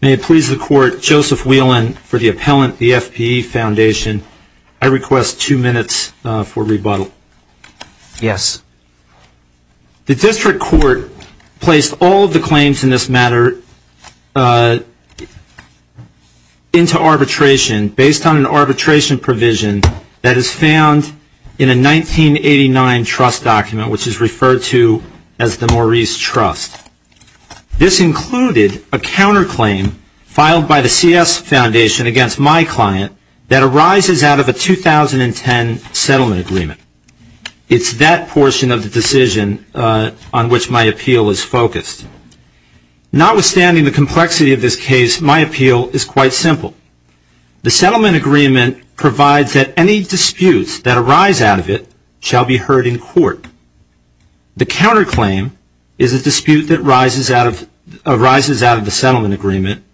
May it please the court, Joseph Whelan for the appellant, the FPE Foundation. I request two minutes for rebuttal. Yes. The district court placed all of the claims in this matter into arbitration based on an arbitration provision that is found in a 1989 trust document, which is referred to as the Maurice Trust. This included a counterclaim filed by the CS Foundation against my client that arises out of a 2010 settlement agreement. It's that portion of the decision on which my appeal is focused. Notwithstanding the complexity of this case, my appeal is quite simple. The settlement agreement provides that any disputes that arise out of it shall be heard in court. The counterclaim is a dispute that arises out of a settlement agreement.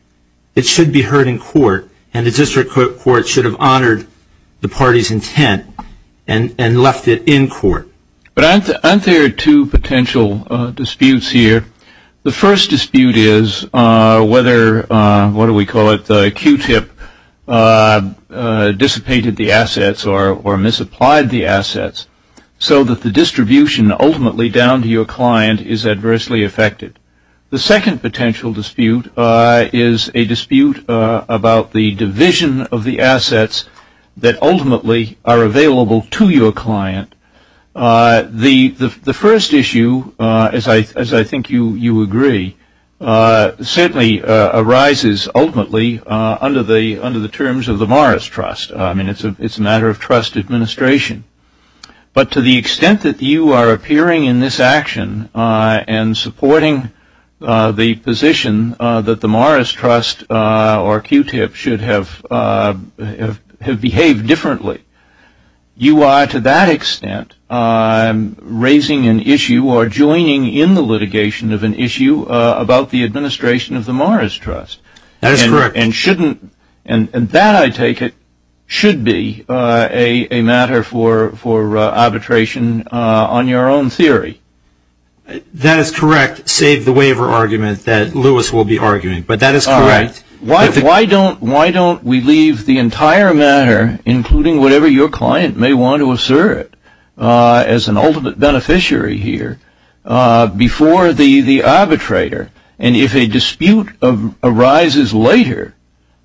It should be heard in court, and the district court should have honored the party's intent and left it in court. But aren't there two potential disputes here? The first dispute is whether, what do we call it, the Q-tip dissipated the assets or misapplied the assets so that the distribution ultimately down to your client is adversely affected. The second potential dispute is a dispute about the division of the assets that ultimately are available to your client. The first issue, as I think you agree, certainly arises ultimately under the terms of the Maurice Trust. I mean, it's a matter of trust administration. But to the extent that you are appearing in this action and supporting the position that the Maurice Trust or Q-tip should have behaved differently, you are to that extent raising an issue or joining in the litigation of an issue about the administration of the Maurice Trust. That is correct. And that, I take it, should be a matter for arbitration on your own theory. That is correct, save the waiver argument that Lewis will be arguing. But that is correct. Why don't we leave the entire matter, including whatever your client may want to assert as an ultimate beneficiary here, before the arbitrator? And if a dispute arises later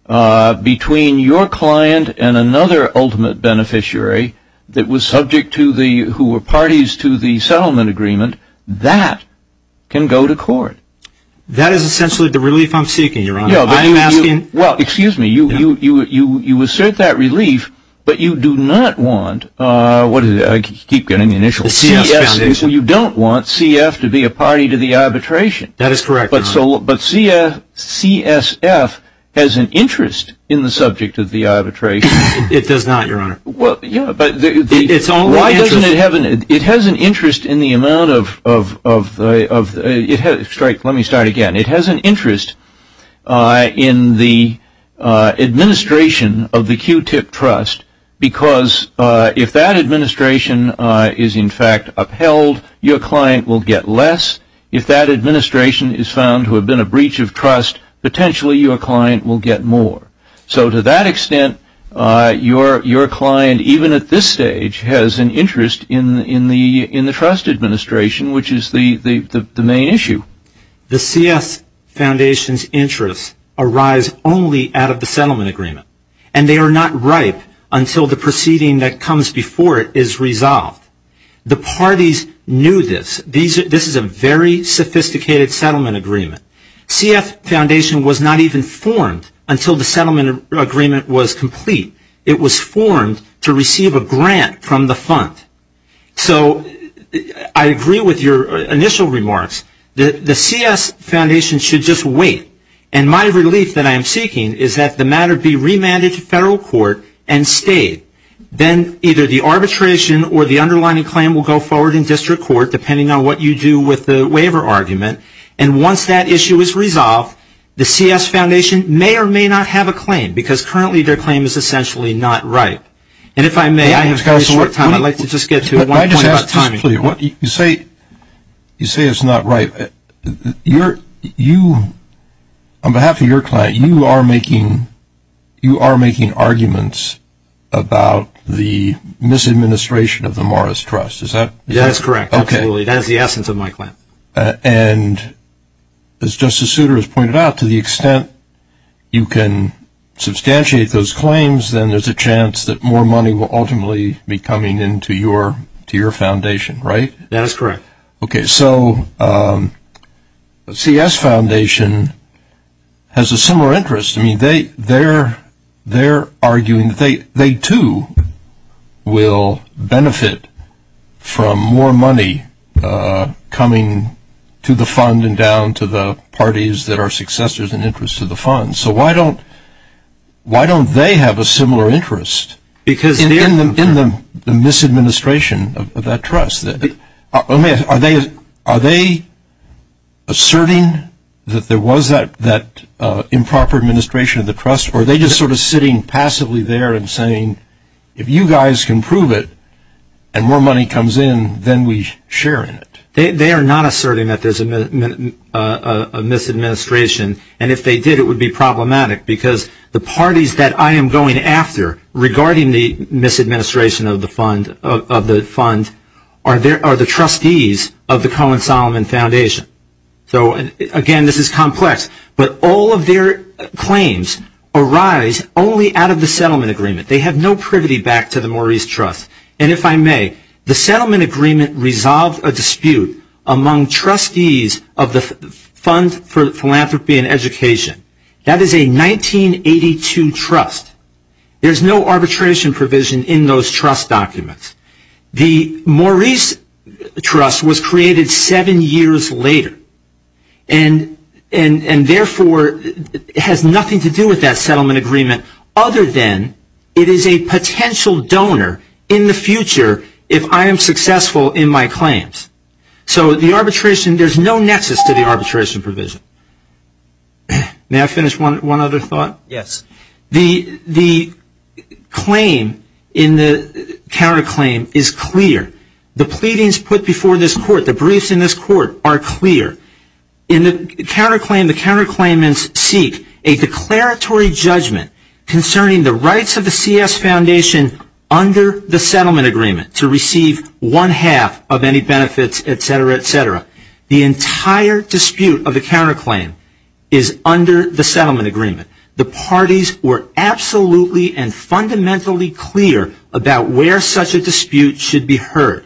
between your client and another ultimate beneficiary who were parties to the settlement agreement, that can go to court. That is essentially the relief I'm seeking, Your Honor. Well, excuse me, you assert that relief, but you do not want CF to be a party to the arbitration. That is correct, Your Honor. But CSF has an interest in the subject of the arbitration. It does not, Your Honor. It has an interest in the amount of, let me start again. It has an interest in the administration of the Q-tip Trust because if that administration is, in fact, upheld, your client will get less. If that administration is found to have been a breach of trust, potentially your client will get more. So to that extent, your client, even at this stage, has an interest in the trust administration, which is the main issue. The CF Foundation's interests arise only out of the settlement agreement. And they are not ripe until the proceeding that comes before it is resolved. The parties knew this. This is a very sophisticated settlement agreement. CF Foundation was not even formed until the settlement agreement was complete. It was formed to receive a grant from the fund. So I agree with your initial remarks. The CS Foundation should just wait. And my relief that I am seeking is that the matter be remanded to federal court and stayed. Then either the arbitration or the underlying claim will go forward in district court, depending on what you do with the waiver argument. And once that issue is resolved, the CS Foundation may or may not have a claim because currently their claim is essentially not ripe. And if I may, I have very short time. I'd like to just get to one point about timing. You say it's not ripe. On behalf of your client, you are making arguments about the misadministration of the Morris Trust. Is that correct? That is correct, absolutely. That is the essence of my claim. And as Justice Souter has pointed out, to the extent you can substantiate those claims, then there's a chance that more money will ultimately be coming into your foundation, right? That is correct. Okay, so the CS Foundation has a similar interest. They're arguing that they, too, will benefit from more money coming to the fund and down to the parties that are successors in interest to the fund. So why don't they have a similar interest in the misadministration of that trust? Are they asserting that there was that improper administration of the trust, or are they just sort of sitting passively there and saying, if you guys can prove it and more money comes in, then we share in it? They are not asserting that there's a misadministration. And if they did, it would be problematic because the parties that I am going after, regarding the misadministration of the fund, are the trustees of the Cohen-Solomon Foundation. So, again, this is complex. But all of their claims arise only out of the settlement agreement. They have no privity back to the Maurice Trust. And if I may, the settlement agreement resolved a dispute among trustees of the Fund for Philanthropy and Education. That is a 1982 trust. There's no arbitration provision in those trust documents. The Maurice Trust was created seven years later, and therefore has nothing to do with that settlement agreement other than it is a potential donor in the future if I am successful in my claims. So the arbitration, there's no nexus to the arbitration provision. May I finish one other thought? Yes. The claim in the counterclaim is clear. The pleadings put before this court, the briefs in this court, are clear. In the counterclaim, the counterclaimants seek a declaratory judgment concerning the rights of the CS Foundation under the settlement agreement to receive one half of any benefits, et cetera, et cetera. The entire dispute of the counterclaim is under the settlement agreement. The parties were absolutely and fundamentally clear about where such a dispute should be heard.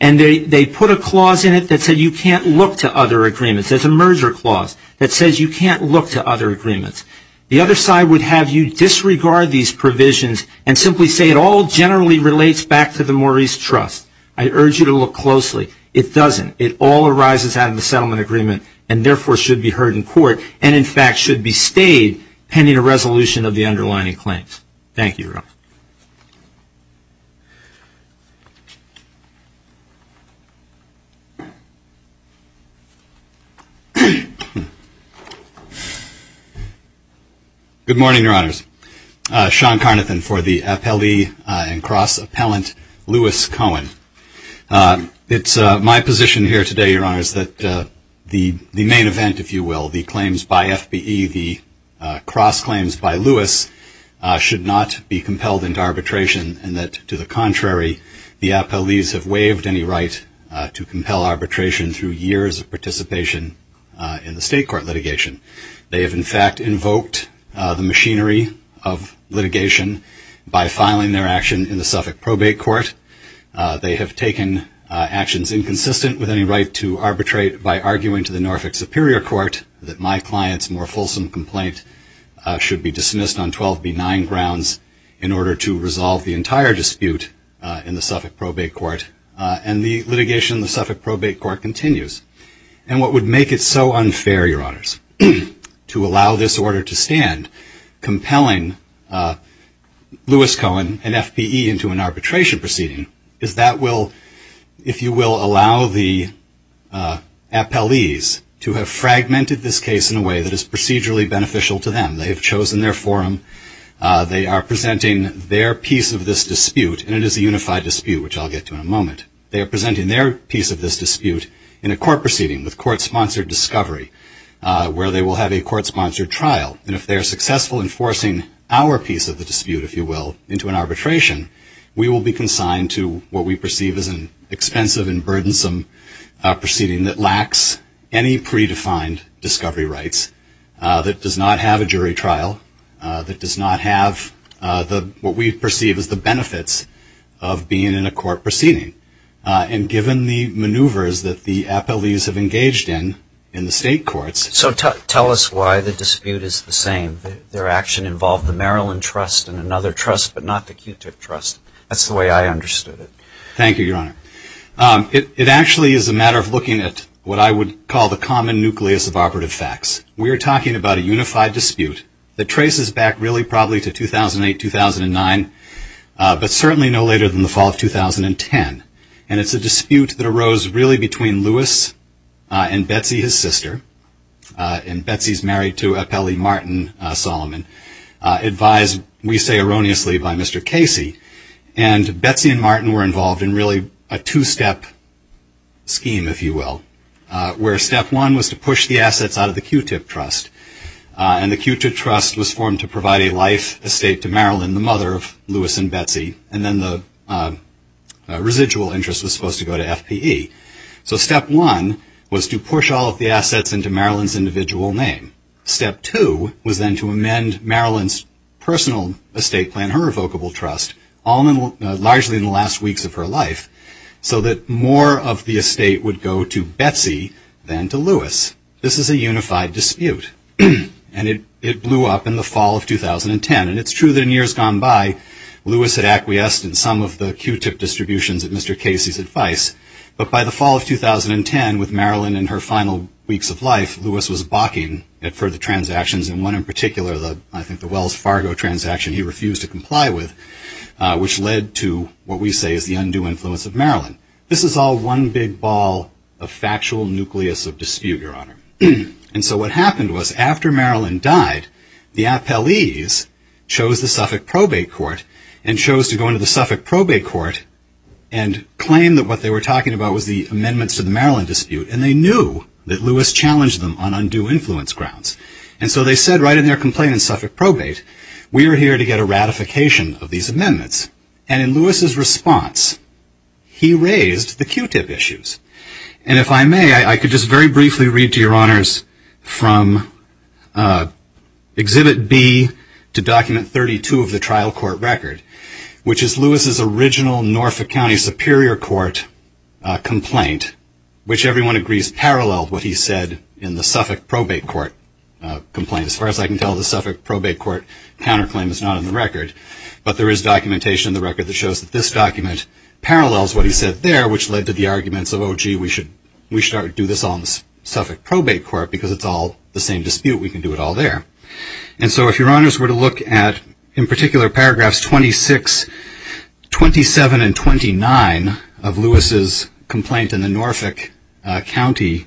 And they put a clause in it that said you can't look to other agreements. There's a merger clause that says you can't look to other agreements. The other side would have you disregard these provisions and simply say it all generally relates back to the Maurice Trust. I urge you to look closely. It doesn't. It all arises out of the settlement agreement and, therefore, should be heard in court and, in fact, should be stayed pending a resolution of the underlying claims. Thank you, Your Honor. Good morning, Your Honors. Sean Carnathan for the appellee and cross-appellant Lewis Cohen. It's my position here today, Your Honors, that the main event, if you will, the claims by FBE, the cross-claims by Lewis, should not be compelled into arbitration and that, to the contrary, the appellees have waived any right to compel arbitration through years of participation in the state court litigation. They have, in fact, invoked the machinery of litigation by filing their action in the Suffolk Probate Court. They have taken actions inconsistent with any right to arbitrate by arguing to the Norfolk Superior Court that my client's more fulsome complaint should be dismissed on 12B9 grounds in order to resolve the entire dispute in the Suffolk Probate Court. And the litigation in the Suffolk Probate Court continues. And what would make it so unfair, Your Honors, to allow this order to stand compelling Lewis Cohen and FBE into an arbitration proceeding is that will, if you will, allow the appellees to have fragmented this case in a way that is procedurally beneficial to them. They have chosen their forum. They are presenting their piece of this dispute, and it is a unified dispute, which I'll get to in a moment. They are presenting their piece of this dispute in a court proceeding with court-sponsored discovery where they will have a court-sponsored trial. And if they are successful in forcing our piece of the dispute, if you will, into an arbitration, we will be consigned to what we perceive as an expensive and burdensome proceeding that lacks any predefined discovery rights, that does not have a jury trial, that does not have what we perceive as the benefits of being in a court proceeding. And given the maneuvers that the appellees have engaged in in the state courts. So tell us why the dispute is the same. Their action involved the Maryland Trust and another trust, but not the QTIC Trust. That's the way I understood it. Thank you, Your Honor. It actually is a matter of looking at what I would call the common nucleus of operative facts. We are talking about a unified dispute that traces back really probably to 2008, 2009, but certainly no later than the fall of 2010. And it's a dispute that arose really between Louis and Betsy, his sister. And Betsy is married to Appellee Martin Solomon, advised, we say erroneously, by Mr. Casey. And Betsy and Martin were involved in really a two-step scheme, if you will, where step one was to push the assets out of the QTIC Trust. And the QTIC Trust was formed to provide a life estate to Marilyn, the mother of Louis and Betsy. And then the residual interest was supposed to go to FPE. So step one was to push all of the assets into Marilyn's individual name. Step two was then to amend Marilyn's personal estate plan, her revocable trust, largely in the last weeks of her life, so that more of the estate would go to Betsy than to Louis. This is a unified dispute. And it blew up in the fall of 2010. And it's true that in years gone by, Louis had acquiesced in some of the QTIC distributions at Mr. Casey's advice. But by the fall of 2010, with Marilyn in her final weeks of life, Louis was balking at further transactions, and one in particular, I think the Wells Fargo transaction he refused to comply with, which led to what we say is the undue influence of Marilyn. This is all one big ball of factual nucleus of dispute, Your Honor. And so what happened was, after Marilyn died, the appellees chose the Suffolk Probate Court and chose to go into the Suffolk Probate Court and claim that what they were talking about was the amendments to the Marilyn dispute. And they knew that Louis challenged them on undue influence grounds. And so they said right in their complaint in Suffolk Probate, we are here to get a ratification of these amendments. And in Louis' response, he raised the QTIP issues. And if I may, I could just very briefly read to Your Honors from Exhibit B to Document 32 of the trial court record, which is Louis' original Norfolk County Superior Court complaint, which everyone agrees paralleled what he said in the Suffolk Probate Court complaint. As far as I can tell, the Suffolk Probate Court counterclaim is not in the record. But there is documentation in the record that shows that this document parallels what he said there, which led to the arguments of, oh, gee, we should do this on the Suffolk Probate Court because it's all the same dispute. We can do it all there. And so if Your Honors were to look at, in particular, paragraphs 26, 27, and 29 of Louis' complaint in the Norfolk County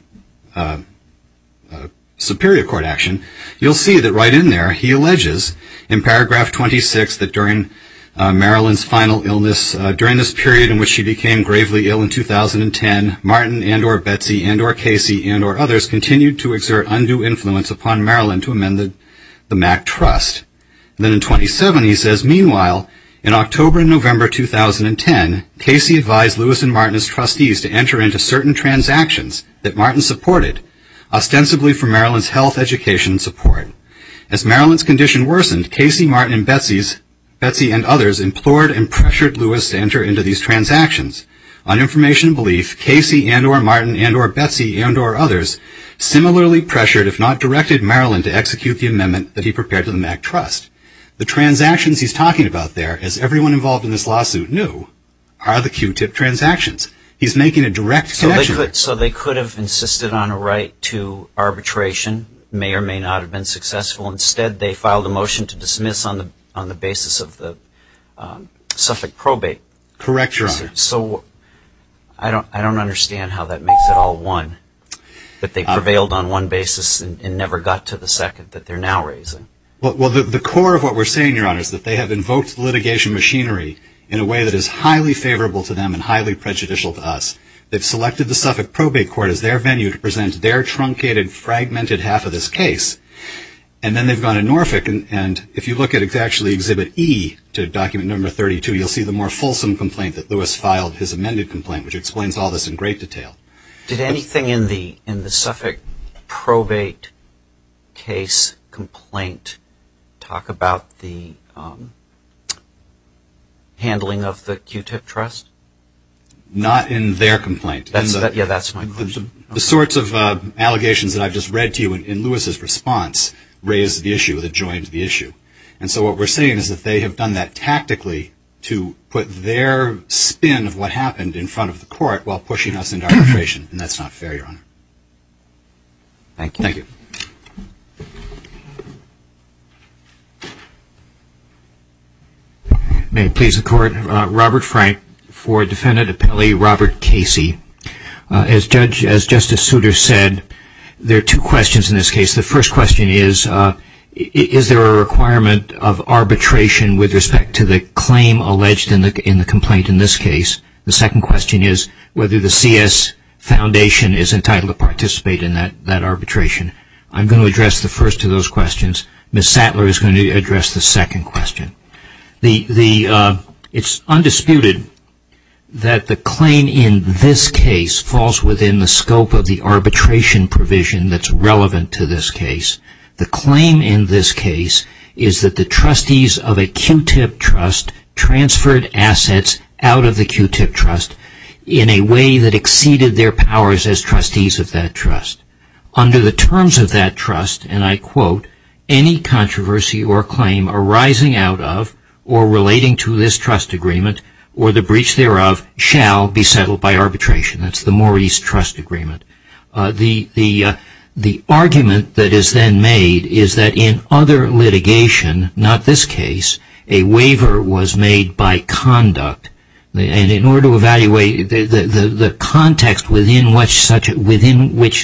Superior Court action, you'll see that right in there he alleges in paragraph 26 that during Marilyn's final illness, during this period in which she became gravely ill in 2010, Martin and or Betsy and or Casey and or others continued to exert undue influence upon Marilyn to amend the MAC trust. Then in 27 he says, Meanwhile, in October and November 2010, Casey advised Louis and Martin as trustees to enter into certain transactions that Martin supported, ostensibly for Marilyn's health, education, and support. As Marilyn's condition worsened, Casey, Martin, and Betsy and others implored and pressured Louis to enter into these transactions. On information and belief, Casey and or Martin and or Betsy and or others similarly pressured, if not directed, Marilyn to execute the amendment that he prepared to the MAC trust. The transactions he's talking about there, as everyone involved in this lawsuit knew, are the Q-tip transactions. He's making a direct connection. So they could have insisted on a right to arbitration, may or may not have been successful. Instead, they filed a motion to dismiss on the basis of the suffolk probate. Correct, Your Honor. So I don't understand how that makes it all one. That they prevailed on one basis and never got to the second that they're now raising. Well, the core of what we're saying, Your Honor, is that they have invoked litigation machinery in a way that is highly favorable to them and highly prejudicial to us. They've selected the suffolk probate court as their venue to present their truncated, fragmented half of this case. And then they've gone in Norfolk, and if you look at actually Exhibit E to Document No. 32, you'll see the more fulsome complaint that Louis filed, his amended complaint, which explains all this in great detail. Did anything in the suffolk probate case complaint talk about the handling of the Q-Tip Trust? Not in their complaint. Yeah, that's my question. The sorts of allegations that I've just read to you in Louis' response raise the issue, that joins the issue. And so what we're saying is that they have done that tactically to put their spin of what happened in front of the court while pushing us into arbitration, and that's not fair, Your Honor. Thank you. Thank you. May it please the Court, Robert Frank for Defendant Appellee Robert Casey. As Justice Souter said, there are two questions in this case. The first question is, is there a requirement of arbitration with respect to the claim alleged in the complaint in this case? The second question is whether the CS Foundation is entitled to participate in that arbitration. I'm going to address the first of those questions. Ms. Sattler is going to address the second question. It's undisputed that the claim in this case falls within the scope of the arbitration provision that's relevant to this case. The claim in this case is that the trustees of a Q-Tip Trust transferred assets out of the Q-Tip Trust in a way that exceeded their powers as trustees of that trust. Under the terms of that trust, and I quote, any controversy or claim arising out of or relating to this trust agreement or the breach thereof shall be settled by arbitration. That's the Maurice Trust Agreement. The argument that is then made is that in other litigation, not this case, a waiver was made by conduct. And in order to evaluate the context within which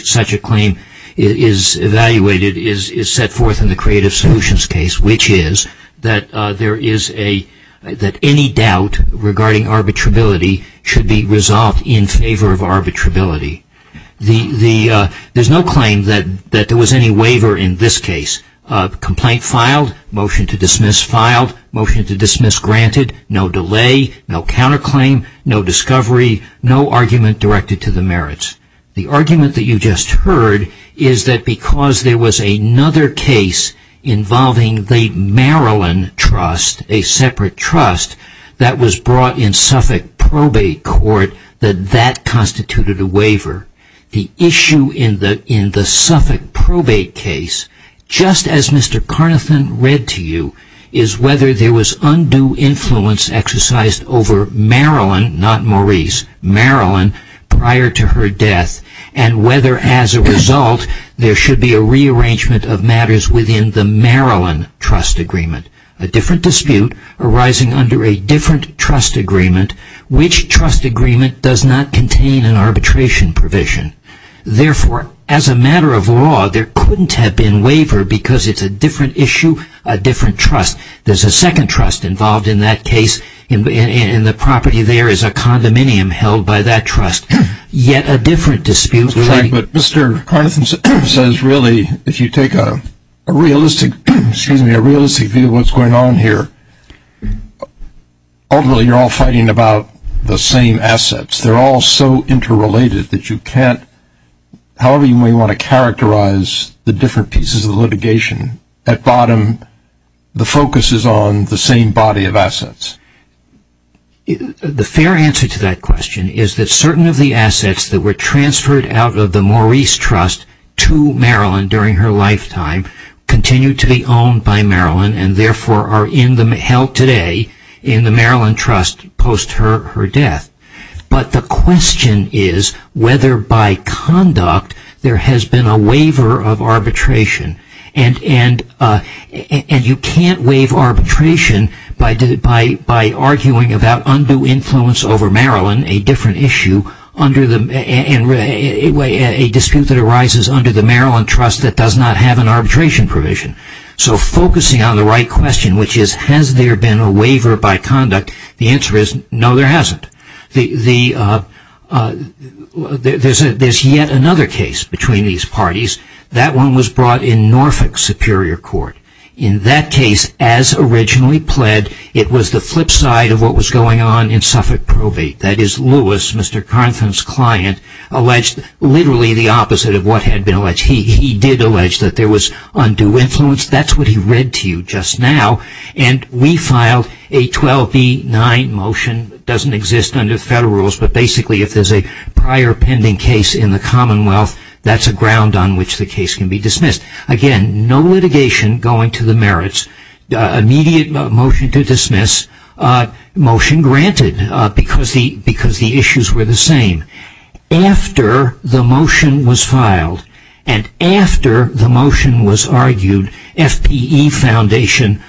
such a claim is evaluated is set forth in the Creative Solutions case, which is that any doubt regarding arbitrability should be resolved in favor of arbitrability. There's no claim that there was any waiver in this case. Complaint filed, motion to dismiss filed, motion to dismiss granted, no delay, no counterclaim, no discovery, no argument directed to the merits. The argument that you just heard is that because there was another case involving the Maryland Trust, a separate trust that was brought in Suffolk probate court, that that constituted a waiver. The issue in the Suffolk probate case, just as Mr. Carnathan read to you, is whether there was undue influence exercised over Maryland, not Maurice, Maryland prior to her death, and whether as a result there should be a rearrangement of matters within the Maryland Trust Agreement. A different dispute arising under a different trust agreement, which trust agreement does not contain an arbitration provision. Therefore, as a matter of law, there couldn't have been waiver because it's a different issue, a different trust. There's a second trust involved in that case, and the property there is a condominium held by that trust. Yet a different dispute. But Mr. Carnathan says really, if you take a realistic view of what's going on here, ultimately you're all fighting about the same assets. They're all so interrelated that you can't, however you may want to characterize the different pieces of litigation, at bottom the focus is on the same body of assets. The fair answer to that question is that certain of the assets that were transferred out of the Maurice Trust to Maryland during her lifetime continued to be owned by Maryland, and therefore are held today in the Maryland Trust post her death. But the question is whether by conduct there has been a waiver of arbitration. And you can't waive arbitration by arguing about undue influence over Maryland, a dispute that arises under the Maryland Trust that does not have an arbitration provision. So focusing on the right question, which is has there been a waiver by conduct, the answer is no, there hasn't. There's yet another case between these parties. That one was brought in Norfolk Superior Court. In that case, as originally pled, it was the flip side of what was going on in Suffolk probate. That is Lewis, Mr. Carnathan's client, alleged literally the opposite of what had been alleged. He did allege that there was undue influence. That's what he read to you just now. And we filed a 12B9 motion, doesn't exist under federal rules, but basically if there's a prior pending case in the Commonwealth, that's a ground on which the case can be dismissed. Again, no litigation going to the merits. Immediate motion to dismiss, motion granted because the issues were the same. After the motion was filed and after the motion was argued, FPE Foundation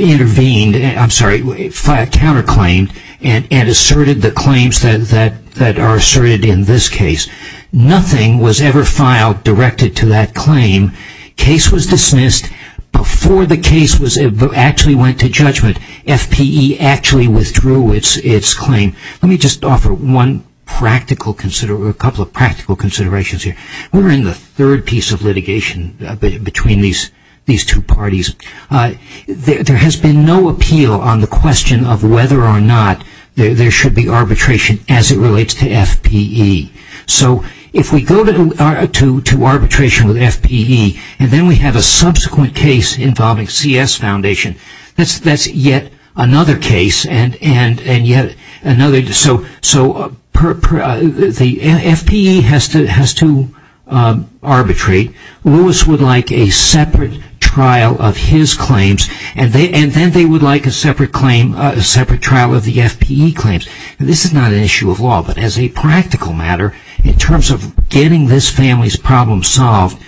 intervened, I'm sorry, counterclaimed and asserted the claims that are asserted in this case. Nothing was ever filed directed to that claim. Case was dismissed. Before the case actually went to judgment, FPE actually withdrew its claim. Let me just offer a couple of practical considerations here. We're in the third piece of litigation between these two parties. There has been no appeal on the question of whether or not there should be arbitration as it relates to FPE. So if we go to arbitration with FPE and then we have a subsequent case involving CS Foundation, that's yet another case and yet another. So FPE has to arbitrate. Lewis would like a separate trial of his claims and then they would like a separate trial of the FPE claims. This is not an issue of law, but as a practical matter, in terms of getting this family's problem solved,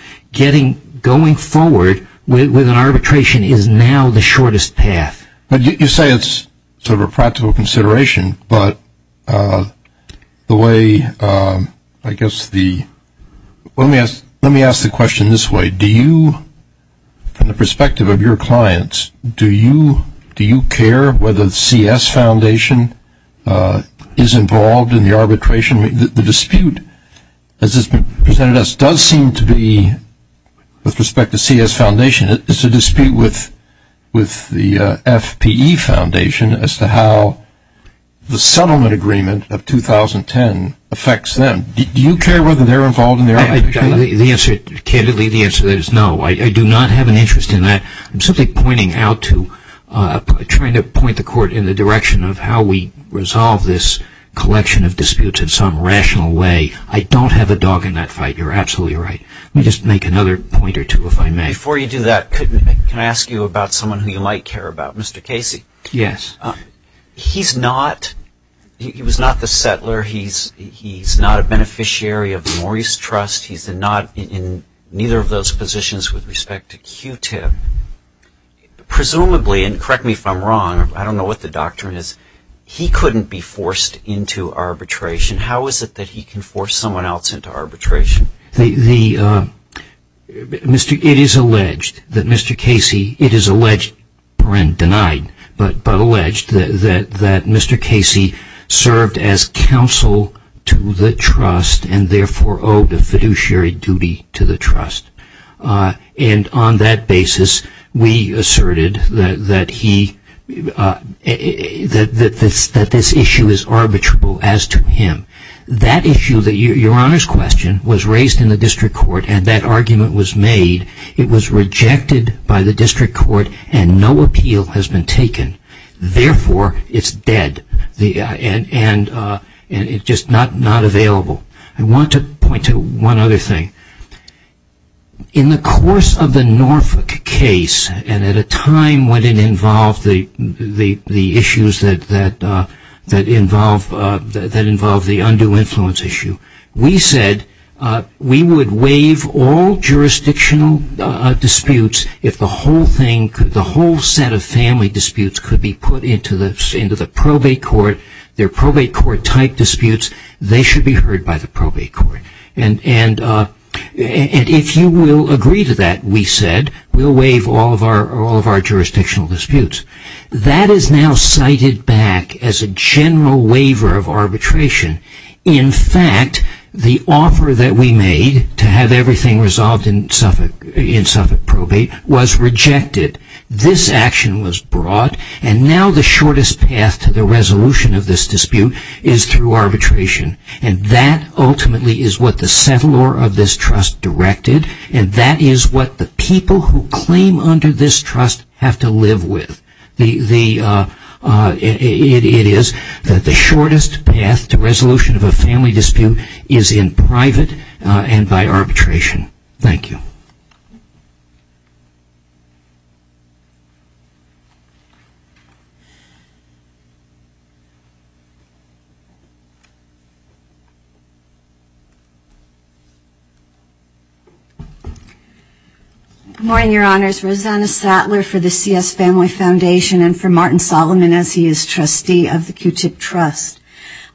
going forward with an arbitration is now the shortest path. You say it's sort of a practical consideration, but the way, I guess the, let me ask the question this way. From the perspective of your clients, do you care whether CS Foundation is involved in the arbitration? The dispute, as it's been presented to us, does seem to be, with respect to CS Foundation, it's a dispute with the FPE Foundation as to how the settlement agreement of 2010 affects them. Do you care whether they're involved in the arbitration? The answer, candidly, the answer is no. I do not have an interest in that. I'm simply pointing out to, trying to point the court in the direction of how we resolve this collection of disputes in some rational way. I don't have a dog in that fight. You're absolutely right. Let me just make another point or two, if I may. Before you do that, can I ask you about someone who you might care about, Mr. Casey? Yes. He's not, he was not the settler. He's not a beneficiary of the Maurice Trust. He's not in neither of those positions with respect to Q-Tip. Presumably, and correct me if I'm wrong, I don't know what the doctrine is, he couldn't be forced into arbitration. How is it that he can force someone else into arbitration? It is alleged that Mr. Casey, it is alleged, denied, but alleged that Mr. Casey served as counsel to the Trust and therefore owed a fiduciary duty to the Trust. And on that basis, we asserted that he, that this issue is arbitrable as to him. That issue, Your Honor's question, was raised in the district court and that argument was made. It was rejected by the district court and no appeal has been taken. Therefore, it's dead and just not available. I want to point to one other thing. In the course of the Norfolk case, and at a time when it involved the issues that involve the undue influence issue, we said we would waive all jurisdictional disputes if the whole thing, the whole set of family disputes could be put into the probate court. They're probate court type disputes. They should be heard by the probate court. And if you will agree to that, we said, we'll waive all of our jurisdictional disputes. That is now cited back as a general waiver of arbitration. In fact, the offer that we made to have everything resolved in Suffolk probate was rejected. This action was brought and now the shortest path to the resolution of this dispute is through arbitration. And that ultimately is what the settlor of this trust directed. And that is what the people who claim under this trust have to live with. It is that the shortest path to resolution of a family dispute is in private and by arbitration. Thank you. Good morning, Your Honors. Rosanna Sattler for the C.S. Family Foundation and for Martin Solomon as he is trustee of the Q-Tip Trust.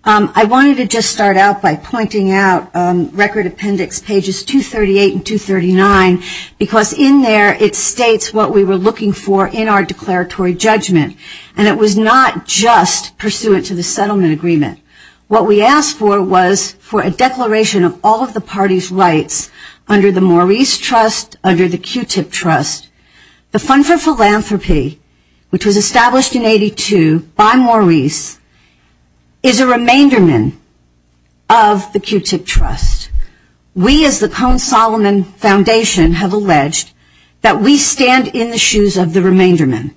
I wanted to just start out by pointing out Record Appendix pages 238 and 239 because in there it states what we were looking for in our declaratory judgment. And it was not just pursuant to the settlement agreement. What we asked for was for a declaration of all of the party's rights under the Maurice Trust, under the Q-Tip Trust. The Fund for Philanthropy, which was established in 82 by Maurice, is a remainderman of the Q-Tip Trust. We as the Cone-Solomon Foundation have alleged that we stand in the shoes of the remainderman.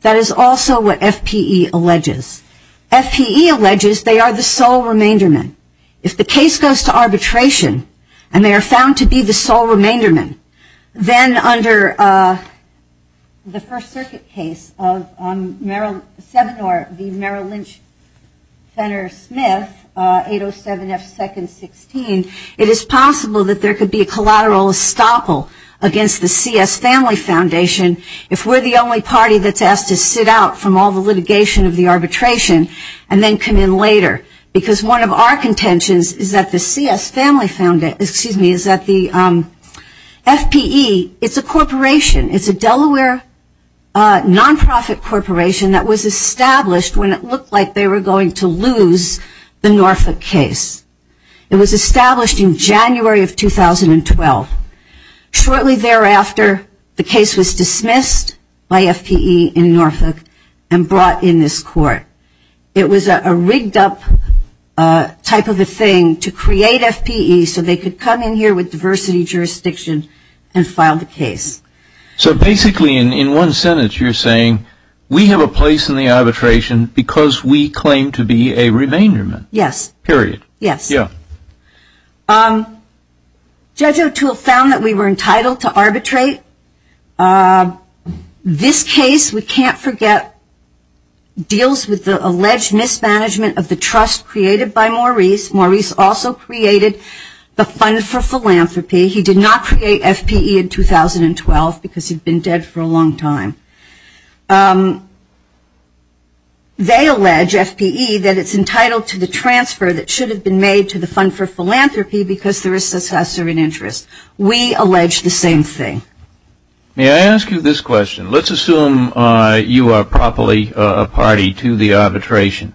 That is also what FPE alleges. FPE alleges they are the sole remainderman. If the case goes to arbitration and they are found to be the sole remainderman, then under the First Circuit case of the Merrill Lynch-Fenner-Smith, 807 F. 2nd. 16, it is possible that there could be a collateral estoppel against the C.S. Family Foundation if we are the only party that is asked to sit out from all the litigation of the arbitration and then come in later. Because one of our contentions is that the C.S. Family Foundation, excuse me, is that the F.P.E. It's a corporation. It's a Delaware nonprofit corporation that was established when it looked like they were going to lose the Norfolk case. It was established in January of 2012. Shortly thereafter, the case was dismissed by F.P.E. in Norfolk and brought in this court. It was a rigged up type of a thing to create F.P.E. so they could come in here with diversity jurisdiction and file the case. So basically in one sentence you're saying we have a place in the arbitration because we claim to be a remainderman. Yes. Period. Yes. Judge O'Toole found that we were entitled to arbitrate. This case, we can't forget, deals with the alleged mismanagement of the trust created by Maurice. Maurice also created the Fund for Philanthropy. He did not create F.P.E. in 2012 because he had been dead for a long time. They allege, F.P.E., that it's entitled to the transfer that should have been made to the Fund for Philanthropy because there is successor in interest. We allege the same thing. May I ask you this question? Let's assume you are properly a party to the arbitration.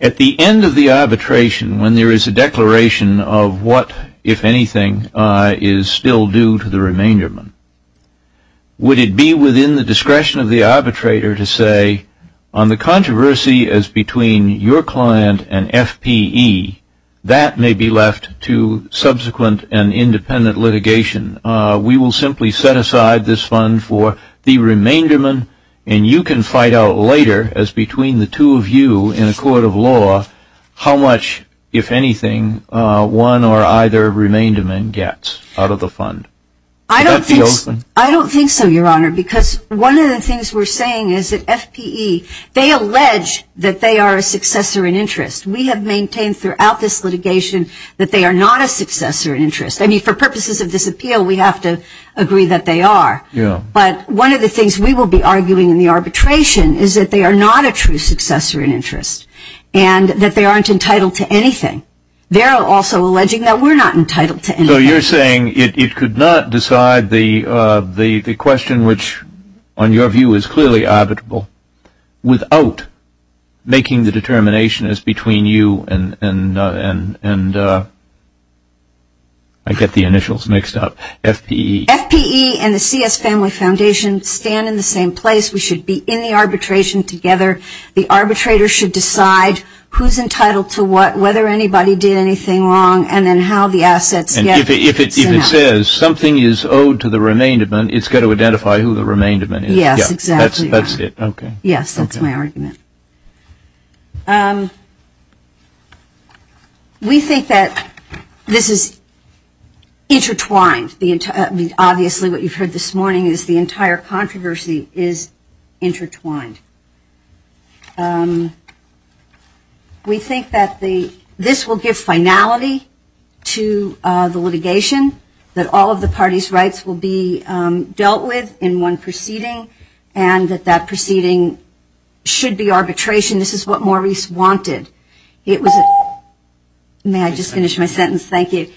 At the end of the arbitration, when there is a declaration of what, if anything, is still due to the remainderman, would it be within the discretion of the arbitrator to say on the controversy as between your client and F.P.E., that may be left to subsequent and independent litigation? We will simply set aside this fund for the remainderman, and you can fight out later as between the two of you in a court of law how much, if anything, one or either remainderman gets out of the fund. Would that be open? I don't think so, Your Honor, because one of the things we're saying is that F.P.E., they allege that they are a successor in interest. We have maintained throughout this litigation that they are not a successor in interest. I mean, for purposes of this appeal, we have to agree that they are. But one of the things we will be arguing in the arbitration is that they are not a true successor in interest and that they aren't entitled to anything. They are also alleging that we're not entitled to anything. So you're saying it could not decide the question, which on your view is clearly arbitrable, without making the determination as between you and, I get the initials mixed up, F.P.E.? F.P.E. and the C.S. Family Foundation stand in the same place. We should be in the arbitration together. The arbitrator should decide who's entitled to what, whether anybody did anything wrong, and then how the assets get sent out. And if it says something is owed to the Remaindment, it's got to identify who the Remaindment is. Yes, exactly. That's it, okay. Yes, that's my argument. We think that this is intertwined. Obviously, what you've heard this morning is the entire controversy is intertwined. We think that this will give finality to the litigation, that all of the parties' rights will be dealt with in one proceeding, and that that proceeding should be arbitration. This is what Maurice wanted. It was a... May I just finish my sentence? Thank you.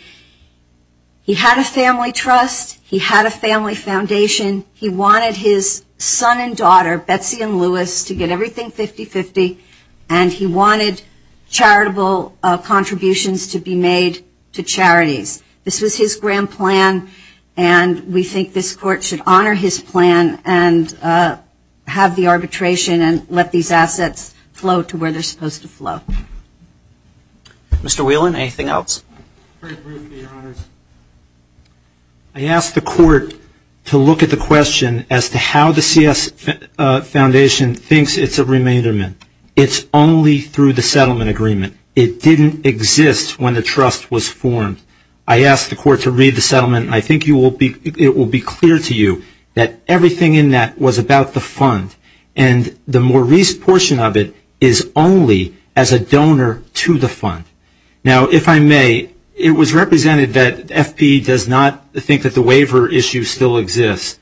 He had a family trust. He had a family foundation. He wanted his son and daughter, Betsy and Louis, to get everything 50-50, and he wanted charitable contributions to be made to charities. This was his grand plan, and we think this Court should honor his plan and have the arbitration and let these assets flow to where they're supposed to flow. Mr. Whelan, anything else? Very briefly, Your Honors. I asked the Court to look at the question as to how the CS Foundation thinks it's a remainderment. It's only through the settlement agreement. It didn't exist when the trust was formed. I asked the Court to read the settlement, and I think it will be clear to you that everything in that was about the fund, and the Maurice portion of it is only as a donor to the fund. Now, if I may, it was represented that FP does not think that the waiver issue still exists.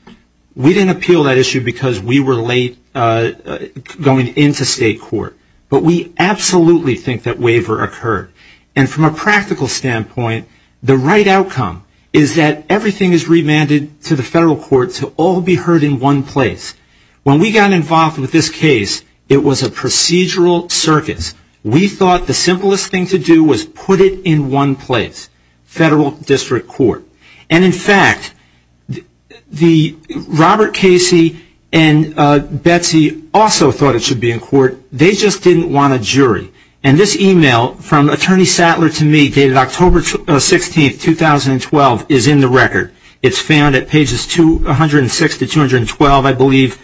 We didn't appeal that issue because we were late going into state court, but we absolutely think that waiver occurred. And from a practical standpoint, the right outcome is that everything is remanded to the federal court to all be heard in one place. When we got involved with this case, it was a procedural circus. We thought the simplest thing to do was put it in one place, federal district court. And, in fact, Robert Casey and Betsy also thought it should be in court. They just didn't want a jury. And this email from Attorney Sattler to me dated October 16, 2012, is in the record. It's found at pages 106 to 212, I believe,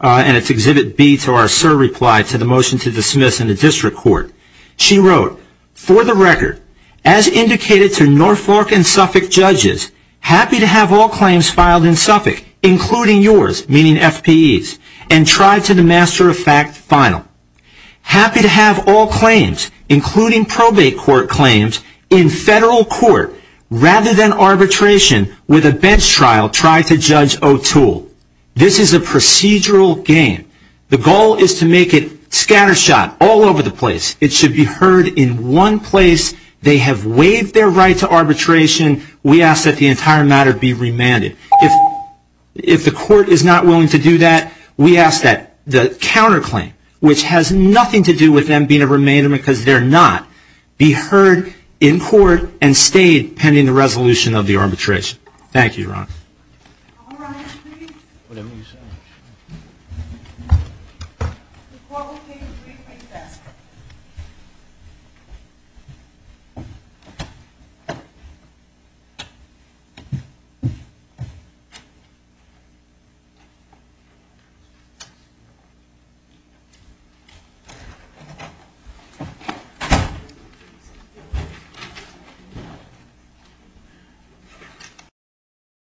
and it's Exhibit B to our SIR reply to the motion to dismiss in the district court. She wrote, For the record, as indicated to Norfolk and Suffolk judges, happy to have all claims filed in Suffolk, including yours, meaning FP's, and tried to the master of fact final. Happy to have all claims, including probate court claims, in federal court rather than arbitration with a bench trial tried to Judge O'Toole. This is a procedural game. The goal is to make it scatter shot all over the place. It should be heard in one place. They have waived their right to arbitration. We ask that the entire matter be remanded. If the court is not willing to do that, we ask that the counterclaim, which has nothing to do with them being a remander because they're not, be heard in court and stayed pending the resolution of the arbitration. Thank you, Your Honor. All rise, please. Whatever you say, Your Honor. The court will take a brief recess.